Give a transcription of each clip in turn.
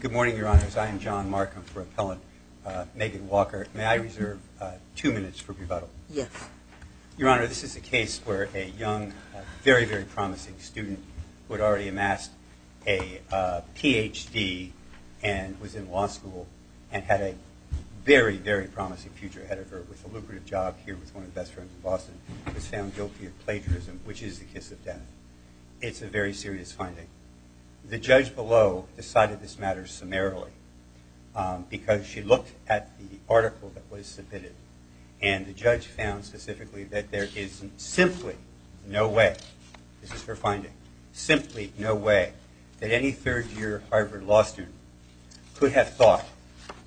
Good morning, Your Honors. I am John Markham for Appellant Naked Walker. May I reserve two minutes for rebuttal? Yes. Your Honor, this is a case where a young, very, very promising student who had already amassed a Ph.D. and was in law school and had a very, very promising future ahead of her with a lucrative job here with one of the best friends in Boston was found guilty of plagiarism, which is the kiss of death. It's a very serious finding. The judge below decided this found specifically that there is simply no way, this is her finding, simply no way that any third year Harvard law student could have thought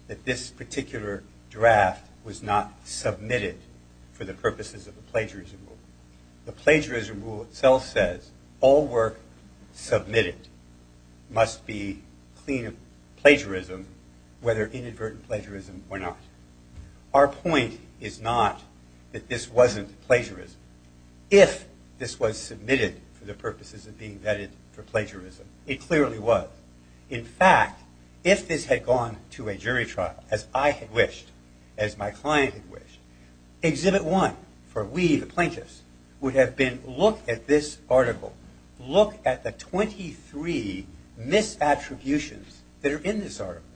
that this particular draft was not submitted for the purposes of the plagiarism rule. The plagiarism rule itself says all work submitted must be clean plagiarism, whether inadvertent plagiarism or not. Our point is not that this wasn't plagiarism. If this was submitted for the purposes of being vetted for plagiarism, it clearly was. In fact, if this had gone to a jury trial, as I had wished, as my client had wished, exhibit one for we, the plaintiffs, would have been look at this article, look at the 23 misattributions that are in this article.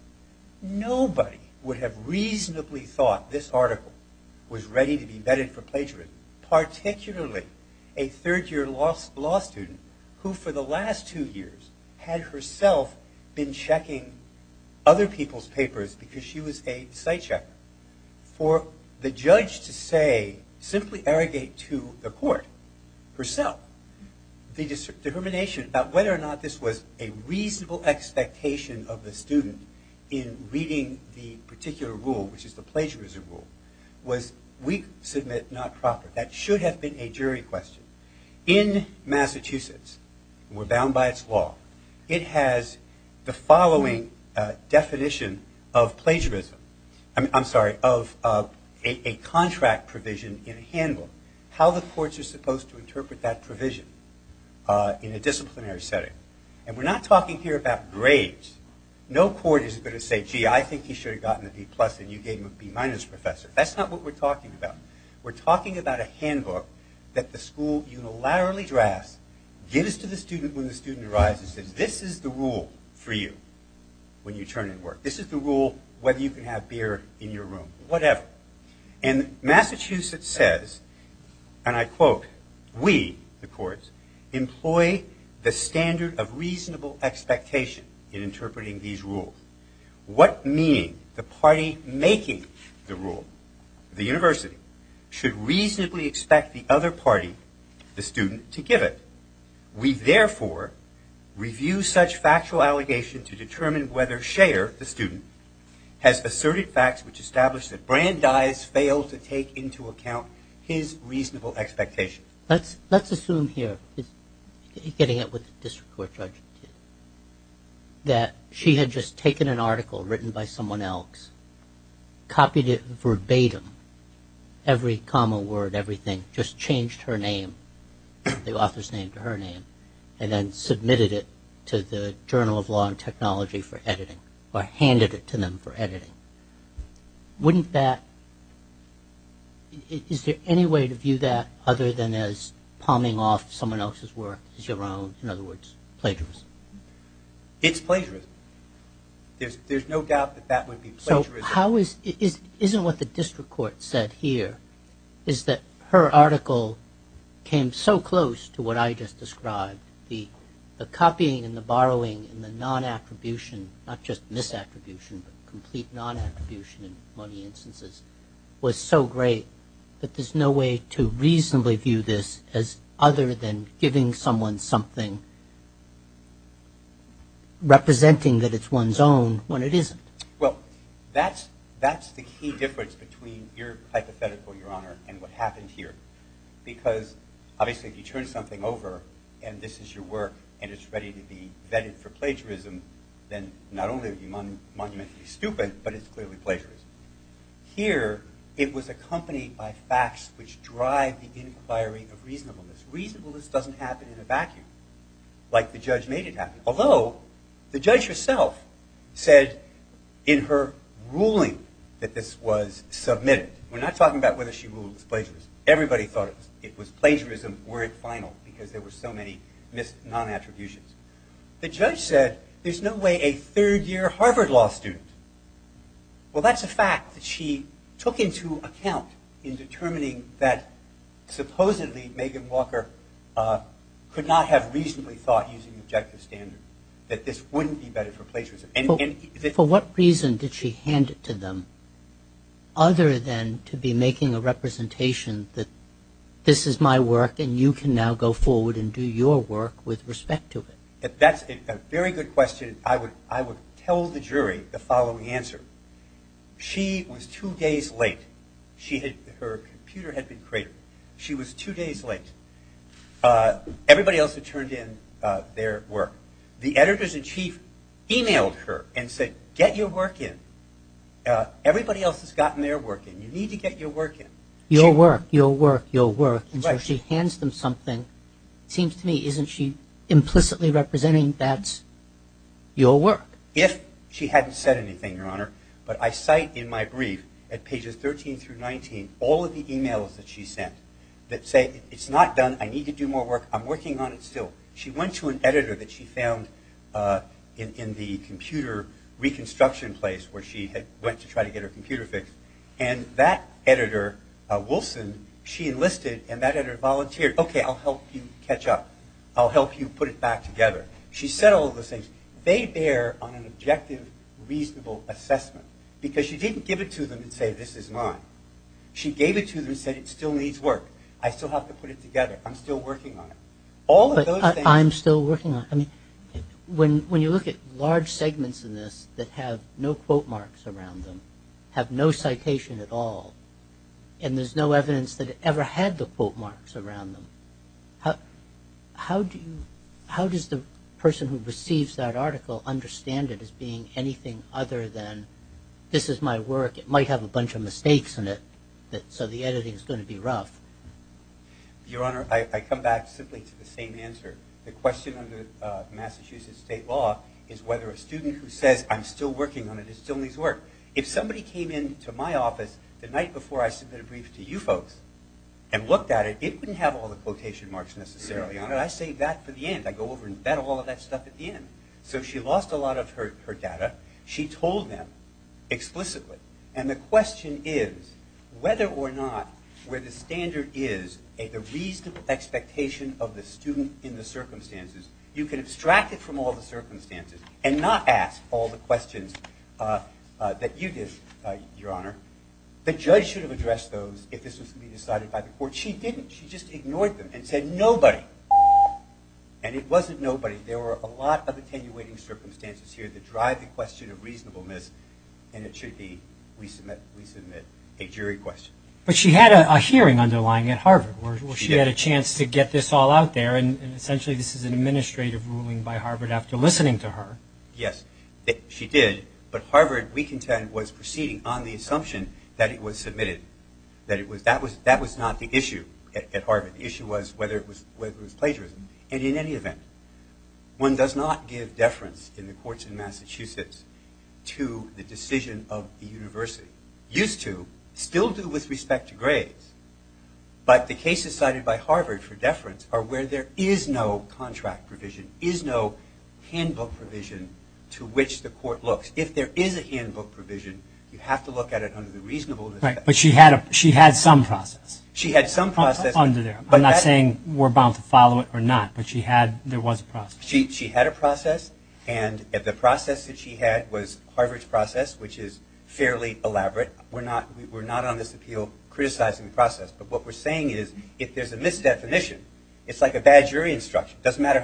Nobody would have reasonably thought this article was ready to be vetted for plagiarism, particularly a third year law student who for the last two years had herself been checking other people's papers because she was a site checker. For the judge to say simply arrogate to the court herself the determination about whether or not this was a reasonable expectation of the student in reading the particular rule, which is the plagiarism rule, was we submit not proper. That should have been a jury question. In Massachusetts, we're bound by It has the following definition of plagiarism. I'm sorry, of a contract provision in a handbook. How the courts are supposed to interpret that provision in a disciplinary setting. And we're not talking here about grades. No court is going to say, gee, I think he should have gotten a B plus and you gave him a B minus, professor. That's not what we're the rule for you when you turn in work. This is the rule whether you can have beer in your room, whatever. And Massachusetts says, and I quote, we, the courts, employ the standard of reasonable expectation in interpreting these rules. What meaning the party making the rule, the university, should reasonably expect the other party, the review such factual allegation to determine whether Schaer, the student, has asserted facts which establish that Brandeis failed to take into account his reasonable expectation. Let's assume here, getting at what the district court judge did, that she had just taken an article written by someone else, copied it verbatim, every comma word, everything, just changed her name, the author's name to her name, and then submitted it to the Journal of Law and Technology for editing, or handed it to them for editing. Wouldn't that, is there any way to view that other than as palming off someone else's work as your own, in other words, plagiarism? It's plagiarism. There's no doubt that that would be plagiarism. Isn't what the district court said here is that her article came so close to what I just described, the copying and the borrowing and the non-attribution, not just misattribution, but complete non-attribution in many instances, was so great that there's no way to reasonably view this as other than giving someone something representing that it's one's own when it isn't? Well, that's the key difference between your hypothetical, Your Honor, and what happened here, because obviously if you turn something over and this is your work and it's ready to be vetted for plagiarism, then not only are you monumentally stupid, but it's clearly plagiarism. Here, it was accompanied by facts which drive the inquiry of reasonableness. Reasonableness doesn't happen in the way that the judge made it happen, although the judge herself said in her ruling that this was submitted. We're not talking about whether she ruled it was plagiarism. Everybody thought it was plagiarism, were it final, because there were so many non-attributions. The judge said there's no way a third-year Harvard Law student, well, that's a fact that she took into account in determining that using objective standard, that this wouldn't be vetted for plagiarism. For what reason did she hand it to them, other than to be making a representation that this is my work and you can now go forward and do your work with respect to it? That's a very good question. I would tell the jury the following answer. She was two days late. Her computer had been cratered. She was two days late. Everybody else had turned in their work. The editors-in-chief emailed her and said, get your work in. Everybody else has gotten their work in. You need to get your work in. Your work, your work, your work. Right. And so she hands them something. Seems to me, isn't she implicitly representing that's your work? If she hadn't said anything, Your Honor, but I cite in my brief at pages 13 through 19 all of the emails that she sent that say, it's not done. I need to do more work. I'm working on it still. She went to an editor that she found in the computer reconstruction place where she had went to try to get her computer fixed. And that editor, Wilson, she enlisted and that editor volunteered. Okay, I'll help you catch up. I'll help you put it back together. She said all of those things. They bear on an objective, reasonable assessment. Because she didn't give it to them and say, this is mine. She gave it to them and said, it still needs work. I still have to put it together. I'm still working on it. But I'm still working on it. I mean, when you look at large segments in this that have no quote marks around them, have no citation at all, and there's no evidence that it ever had the quote marks around them, how does the person who receives that article understand it as being anything other than, this is my work. It might have a bunch of mistakes in it, so the editing is going to be rough. Your Honor, I come back simply to the same answer. The question under Massachusetts state law is whether a student who says, I'm still working on it, it still needs work. If somebody came into my office the night before I submitted a brief to you folks and looked at it, it wouldn't have all the quotation marks necessarily on it. I saved that for the end. I go over and vet all of that stuff at the end. So she lost a lot of her data. She told them explicitly, and the question is whether or not where the standard is, the reasonable expectation of the student in the circumstances, you can abstract it from all the circumstances and not ask all the questions that you did, Your Honor. The judge should have addressed those if this was to be decided by the court. She didn't. She just ignored them and said nobody. And it wasn't nobody. There were a lot of attenuating circumstances here that drive the question of reasonableness, and it should be we submit a jury question. But she had a hearing underlying at Harvard where she had a chance to get this all out there, and essentially this is an administrative ruling by Harvard after listening to her. Yes, she did. But Harvard, we contend, was proceeding on the assumption that it was submitted, that that was not the issue at Harvard. The issue was whether it was plagiarism. And in any event, one does not give deference in the courts in Massachusetts to the decision of the university. Used to. Still do with respect to grades. But the cases cited by Harvard for deference are where there is no contract provision, is no handbook provision to which the court looks. If there is a handbook provision, you have to look at it under the reasonableness. Right, but she had some process. She had some process. I'm not saying we're bound to follow it or not, but she had, there was a process. She had a process, and the process that she had was Harvard's process, which is fairly elaborate. We're not on this appeal criticizing the process, but what we're saying is if there's a misdefinition, it's like a bad jury instruction. It doesn't matter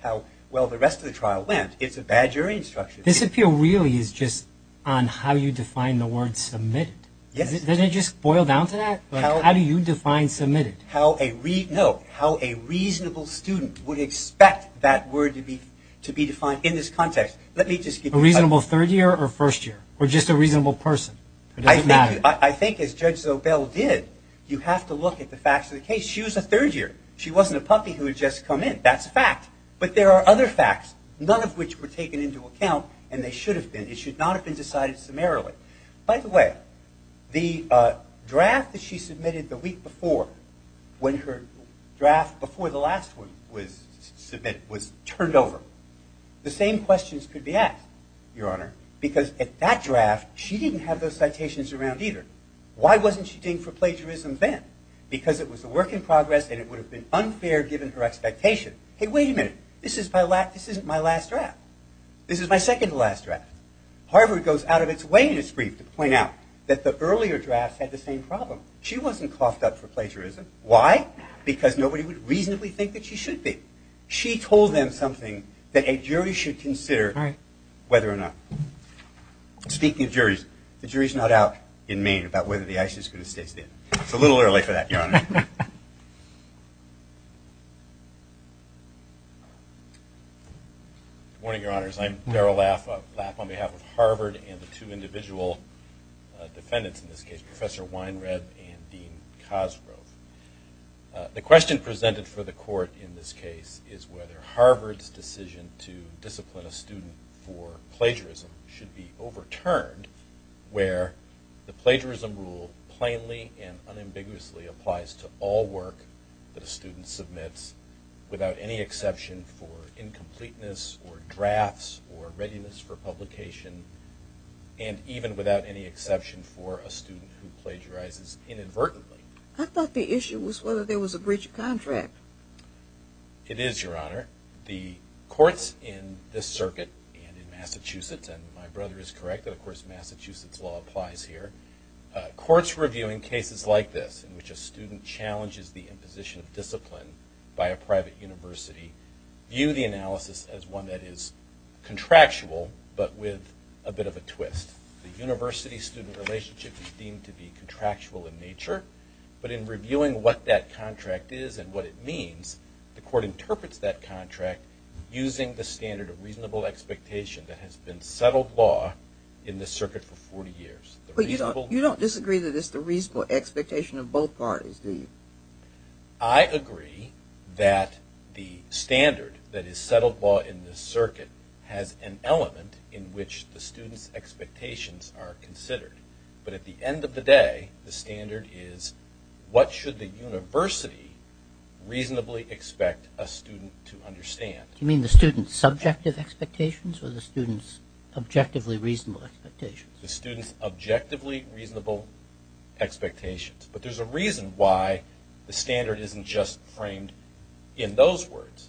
how well the rest of the trial went. It's a bad jury instruction. This appeal really is just on how you define the word submitted. Yes. Doesn't it just boil down to that? How do you define submitted? No, how a reasonable student would expect that word to be defined in this context. A reasonable third year or first year, or just a reasonable person? It doesn't matter. I think as Judge Zobel did, you have to look at the facts of the case. She was a third year. She wasn't a puppy who had just come in. That's a fact, but there are other facts, none of which were taken into account, and they should have been. It should not have been decided summarily. By the way, the draft that she submitted the week before, when her draft before the last one was submitted, was turned over. The same questions could be asked, Your Honor, because at that draft she didn't have those citations around either. Why wasn't she deemed for plagiarism then? Because it was a work in progress and it would have been unfair given her expectation. Hey, wait a minute. This isn't my last draft. This is my second to last draft. Harvard goes out of its way in its brief to point out that the earlier drafts had the same problem. She wasn't coughed up for plagiarism. Why? Because nobody would reasonably think that she should be. She told them something that a jury should consider whether or not. Speaking of juries, the jury is not out in Maine about whether the ICE is going to stay still. It's a little early for that, Your Honor. Good morning, Your Honors. I'm Darrell Laff on behalf of Harvard and the two individual defendants in this case, Professor Weinreb and Dean Cosgrove. The question presented for the court in this case is whether Harvard's decision to discipline a student for plagiarism should be overturned where the plagiarism rule plainly and unambiguously applies to all work that a student submits without any exception for incompleteness or drafts or readiness for publication and even without any exception for a student who plagiarizes inadvertently. I thought the issue was whether there was a breach of contract. It is, Your Honor. The courts in this circuit and in Massachusetts, and my brother is correct that, of course, Massachusetts law applies here. Courts reviewing cases like this in which a student challenges the imposition of discipline by a private university view the analysis as one that is contractual but with a bit of a twist. The university-student relationship is deemed to be contractual in nature, but in reviewing what that contract is and what it means, the court interprets that contract using the standard of reasonable expectation that has been settled law in this circuit for 40 years. You don't disagree that it's the reasonable expectation of both parties, do you? I agree that the standard that is settled law in this circuit has an element in which the student's expectations are considered. But at the end of the day, the standard is what should the university reasonably expect a student to understand. Do you mean the student's subjective expectations or the student's objectively reasonable expectations? The student's objectively reasonable expectations. But there's a reason why the standard isn't just framed in those words.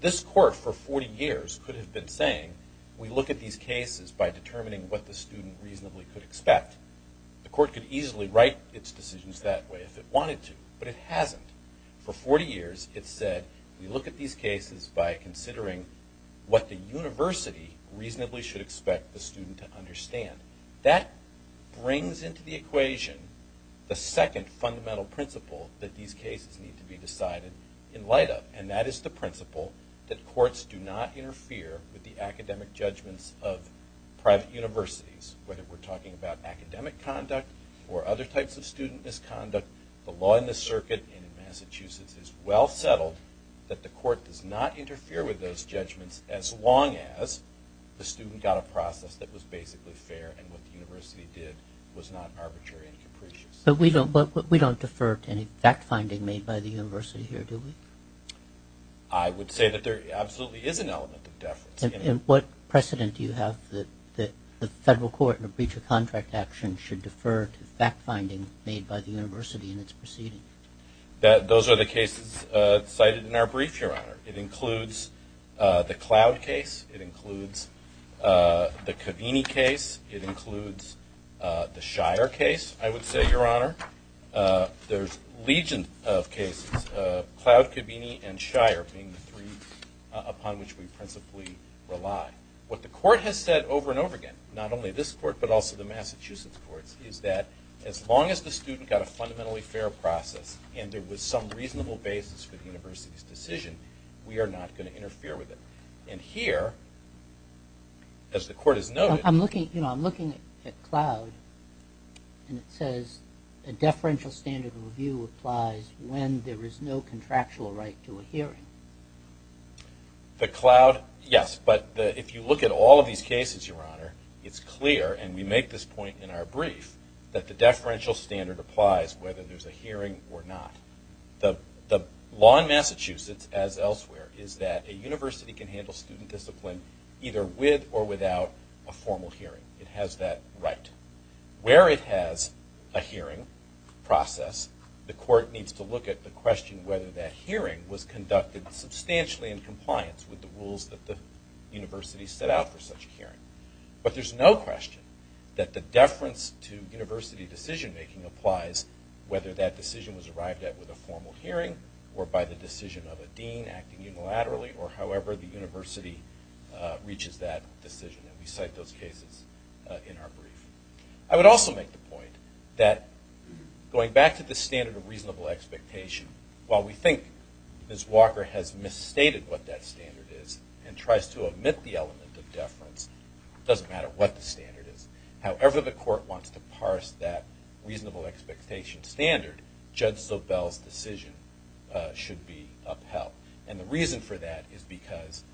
This court for 40 years could have been saying, we look at these cases by determining what the student reasonably could expect. The court could easily write its decisions that way if it wanted to, but it hasn't. For 40 years it said, we look at these cases by considering what the university reasonably should expect the student to understand. That brings into the equation the second fundamental principle that these cases need to be decided in light of, and that is the principle that courts do not interfere with the academic judgments of private universities. Whether we're talking about academic conduct or other types of student misconduct, the law in this circuit in Massachusetts is well settled that the court does not interfere with those judgments as long as the student got a process that was basically fair and what the university did was not arbitrary and capricious. But we don't defer to any fact-finding made by the university here, do we? I would say that there absolutely is an element of deference. And what precedent do you have that the federal court in a breach of contract action should defer to fact-finding made by the university in its proceeding? Those are the cases cited in our brief, Your Honor. It includes the Cloud case. It includes the Covini case. It includes the Shire case, I would say, Your Honor. There's legions of cases, Cloud, Covini, and Shire being the three upon which we principally rely. What the court has said over and over again, not only this court but also the Massachusetts courts, is that as long as the student got a fundamentally fair process and there was some reasonable basis for the university's decision, we are not going to interfere with it. And here, as the court has noted... I'm looking at Cloud and it says a deferential standard of review applies when there is no contractual right to a hearing. The Cloud, yes. But if you look at all of these cases, Your Honor, it's clear, and we make this point in our brief, that the deferential standard applies whether there's a hearing or not. The law in Massachusetts, as elsewhere, is that a university can handle student discipline either with or without a formal hearing. It has that right. Where it has a hearing process, the court needs to look at the question whether that hearing was conducted substantially in compliance with the rules that the university set out for such a hearing. But there's no question that the deference to university decision-making applies whether that decision was arrived at with a formal hearing or by the decision of a dean acting unilaterally or however the university reaches that decision. And we cite those cases in our brief. I would also make the point that going back to the standard of reasonable expectation, while we think Ms. Walker has misstated what that standard is and tries to omit the element of deference, it doesn't matter what the standard is. However the court wants to parse that reasonable expectation standard, Judge Sobel's decision should be upheld. And the reason for that is because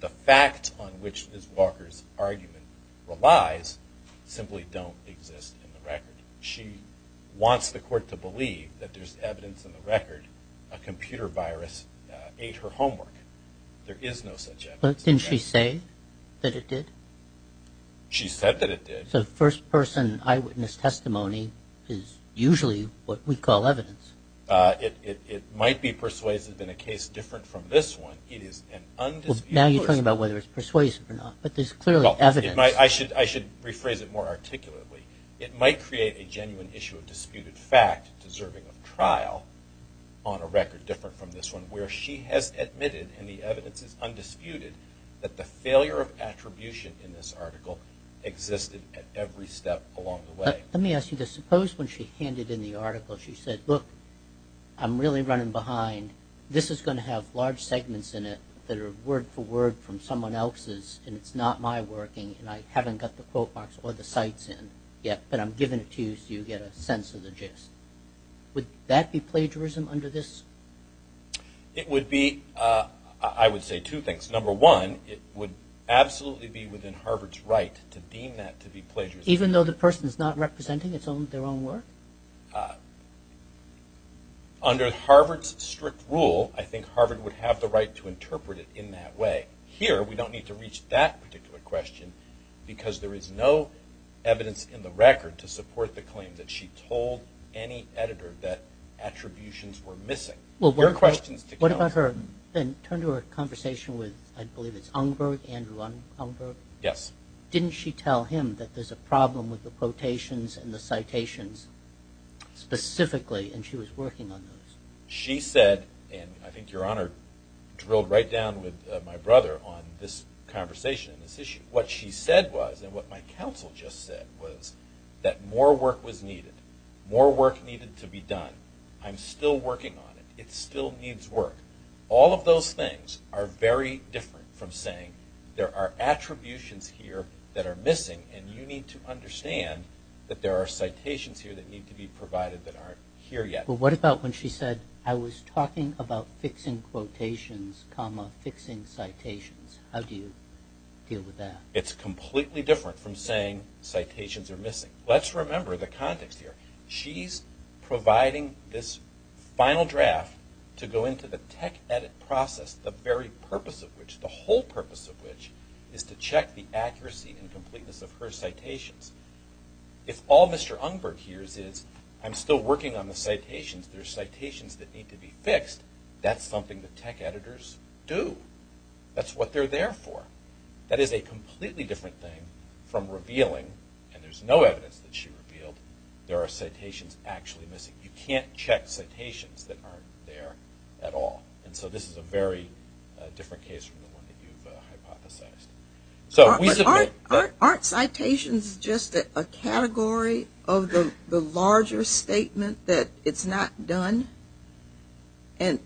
the facts on which Ms. Walker's argument relies simply don't exist in the record. She wants the court to believe that there's evidence in the record a computer virus ate her homework. There is no such evidence. But didn't she say that it did? She said that it did. So first-person eyewitness testimony is usually what we call evidence. It might be persuasive in a case different from this one. Now you're talking about whether it's persuasive or not. But there's clearly evidence. I should rephrase it more articulately. It might create a genuine issue of disputed fact deserving of trial on a record different from this one where she has admitted, and the evidence is undisputed, that the failure of attribution in this article existed at every step along the way. Let me ask you this. Suppose when she handed in the article she said, Look, I'm really running behind. This is going to have large segments in it that are word for word from someone else's, and it's not my working, and I haven't got the quote marks or the cites in yet, but I'm giving it to you so you get a sense of the gist. Would that be plagiarism under this? It would be, I would say, two things. Number one, it would absolutely be within Harvard's right to deem that to be plagiarism. Even though the person is not representing their own work? Under Harvard's strict rule, I think Harvard would have the right to interpret it in that way. Here we don't need to reach that particular question because there is no evidence in the record to support the claim that she told any editor that attributions were missing. Your question is to count. What about her, turn to her conversation with, I believe it's Ungberg, Andrew Ungberg? Yes. Didn't she tell him that there's a problem with the quotations and the citations specifically, and she was working on those? She said, and I think Your Honor drilled right down with my brother on this conversation and this issue. What she said was, and what my counsel just said, was that more work was needed. More work needed to be done. I'm still working on it. It still needs work. All of those things are very different from saying there are attributions here that are missing and you need to understand that there are citations here that need to be provided that aren't here yet. What about when she said, I was talking about fixing quotations, comma, fixing citations? How do you deal with that? It's completely different from saying citations are missing. Let's remember the context here. She's providing this final draft to go into the tech edit process, the very purpose of which, the whole purpose of which, is to check the accuracy and completeness of her citations. If all Mr. Ungberg hears is, I'm still working on the citations, there's citations that need to be fixed, that's something the tech editors do. That's what they're there for. That is a completely different thing from revealing, and there's no evidence that she revealed, there are citations actually missing. You can't check citations that aren't there at all. This is a very different case from the one that you've hypothesized. Aren't citations just a category of the larger statement that it's not done? And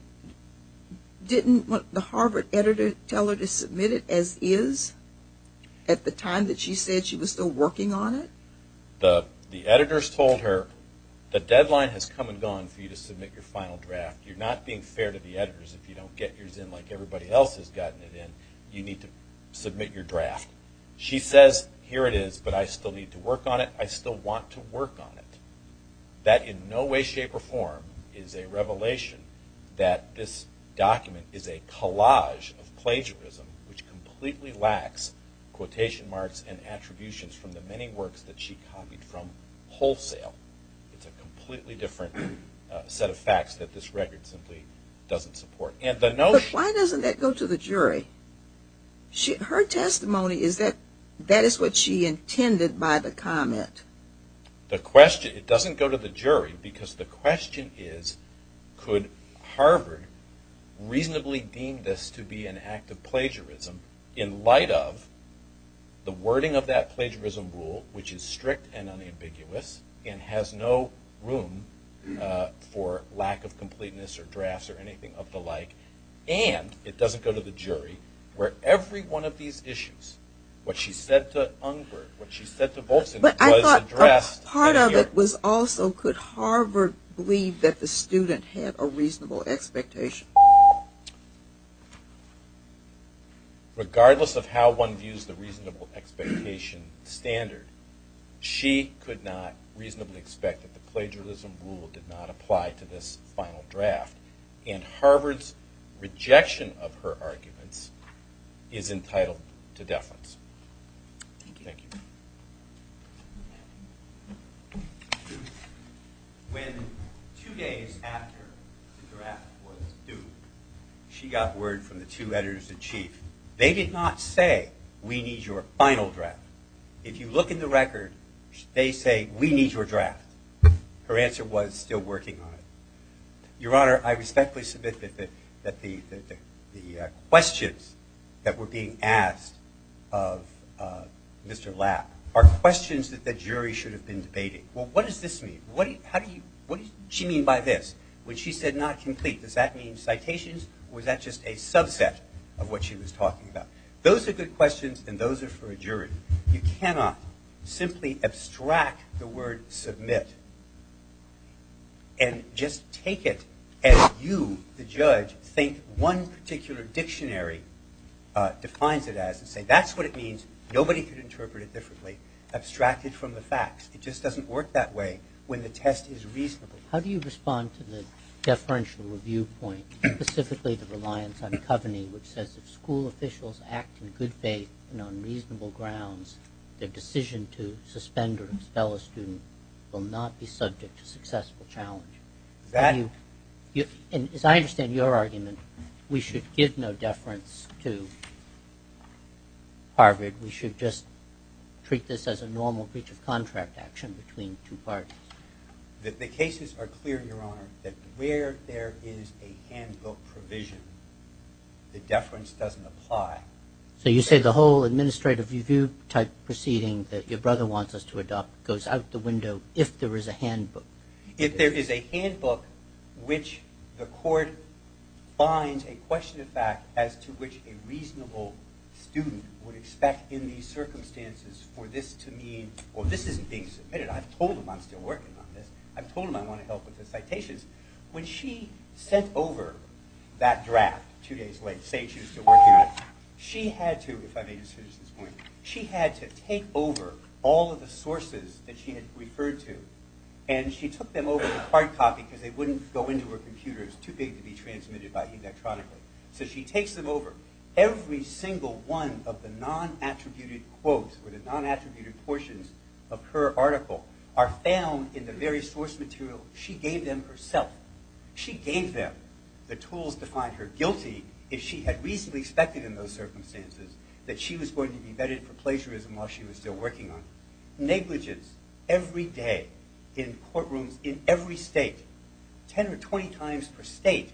didn't the Harvard editor tell her to submit it as is at the time that she said she was still working on it? The editors told her, the deadline has come and gone for you to submit your final draft. You're not being fair to the editors. If you don't get yours in like everybody else has gotten it in, you need to submit your draft. She says, here it is, but I still need to work on it, I still want to work on it. That in no way, shape, or form is a revelation that this document is a collage of plagiarism which completely lacks quotation marks and attributions from the many works that she copied from wholesale. It's a completely different set of facts that this record simply doesn't support. But why doesn't that go to the jury? Her testimony is that that is what she intended by the comment. The question, it doesn't go to the jury because the question is, could Harvard reasonably deem this to be an act of plagiarism in light of the wording of that plagiarism rule which is strict and unambiguous and has no room for lack of completeness or drafts or anything of the like and it doesn't go to the jury where every one of these issues, what she said to Ungberg, what she said to Volzin, was addressed. But I thought part of it was also, could Harvard believe that the student had a reasonable expectation? Regardless of how one views the reasonable expectation standard, she could not reasonably expect that the plagiarism rule did not apply to this final draft and Harvard's rejection of her arguments is entitled to deference. Thank you. When two days after the draft was due, she got word from the two editors-in-chief. They did not say, we need your final draft. If you look in the record, they say, we need your draft. Her answer was, still working on it. Your Honor, I respectfully submit that the questions that were being asked of Mr. Lapp are questions that the jury should have been debating. Well, what does this mean? What does she mean by this? When she said not complete, does that mean citations or is that just a subset of what she was talking about? Those are good questions and those are for a jury. You cannot simply abstract the word submit and just take it as you, the judge, think one particular dictionary defines it as and say that's what it means. Nobody could interpret it differently. Abstract it from the facts. It just doesn't work that way when the test is reasonable. How do you respond to the deferential review point, specifically the reliance on coveny, which says if school officials act in good faith and on reasonable grounds, their decision to suspend or expel a student will not be subject to successful challenge? As I understand your argument, we should give no deference to Harvard. We should just treat this as a normal breach of contract action between two parties. The cases are clear, Your Honor, that where there is a handbook provision, the deference doesn't apply. So you say the whole administrative review type proceeding that your brother wants us to adopt goes out the window if there is a handbook? If there is a handbook which the court finds a question of fact as to which a reasonable student would expect in these circumstances for this to mean, well, this isn't being submitted. I've told them I'm still working on this. I've told them I want to help with the citations. When she sent over that draft two days late, say she was still working on it, she had to, if I may just finish this point, she had to take over all of the sources that she had referred to and she took them over to hard copy because they wouldn't go into her computers too big to be transmitted by electronically. So she takes them over. Every single one of the non-attributed quotes or the non-attributed portions of her article are found in the very source material she gave them herself. She gave them the tools to find her guilty if she had reasonably expected in those circumstances that she was going to be vetted for plagiarism while she was still working on it. Negligence every day in courtrooms in every state, 10 or 20 times per state.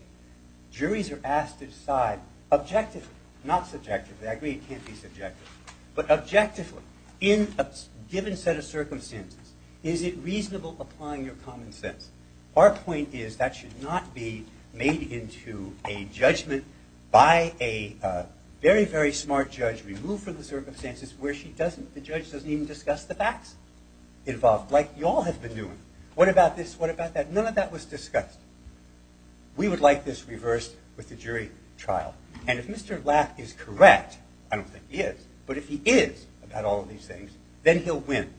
Juries are asked to decide objectively, not subjectively, I agree it can't be subjective, but objectively in a given set of circumstances is it reasonable applying your common sense? Our point is that should not be made into a judgment by a very, very smart judge removed from the circumstances where the judge doesn't even discuss the facts involved like you all have been doing. What about this? What about that? None of that was discussed. We would like this reversed with the jury trial. And if Mr. Lapp is correct, I don't think he is, but if he is about all of these things, then he'll win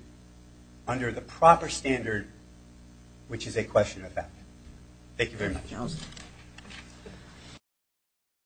under the proper standard which is a question of fact. Thank you very much.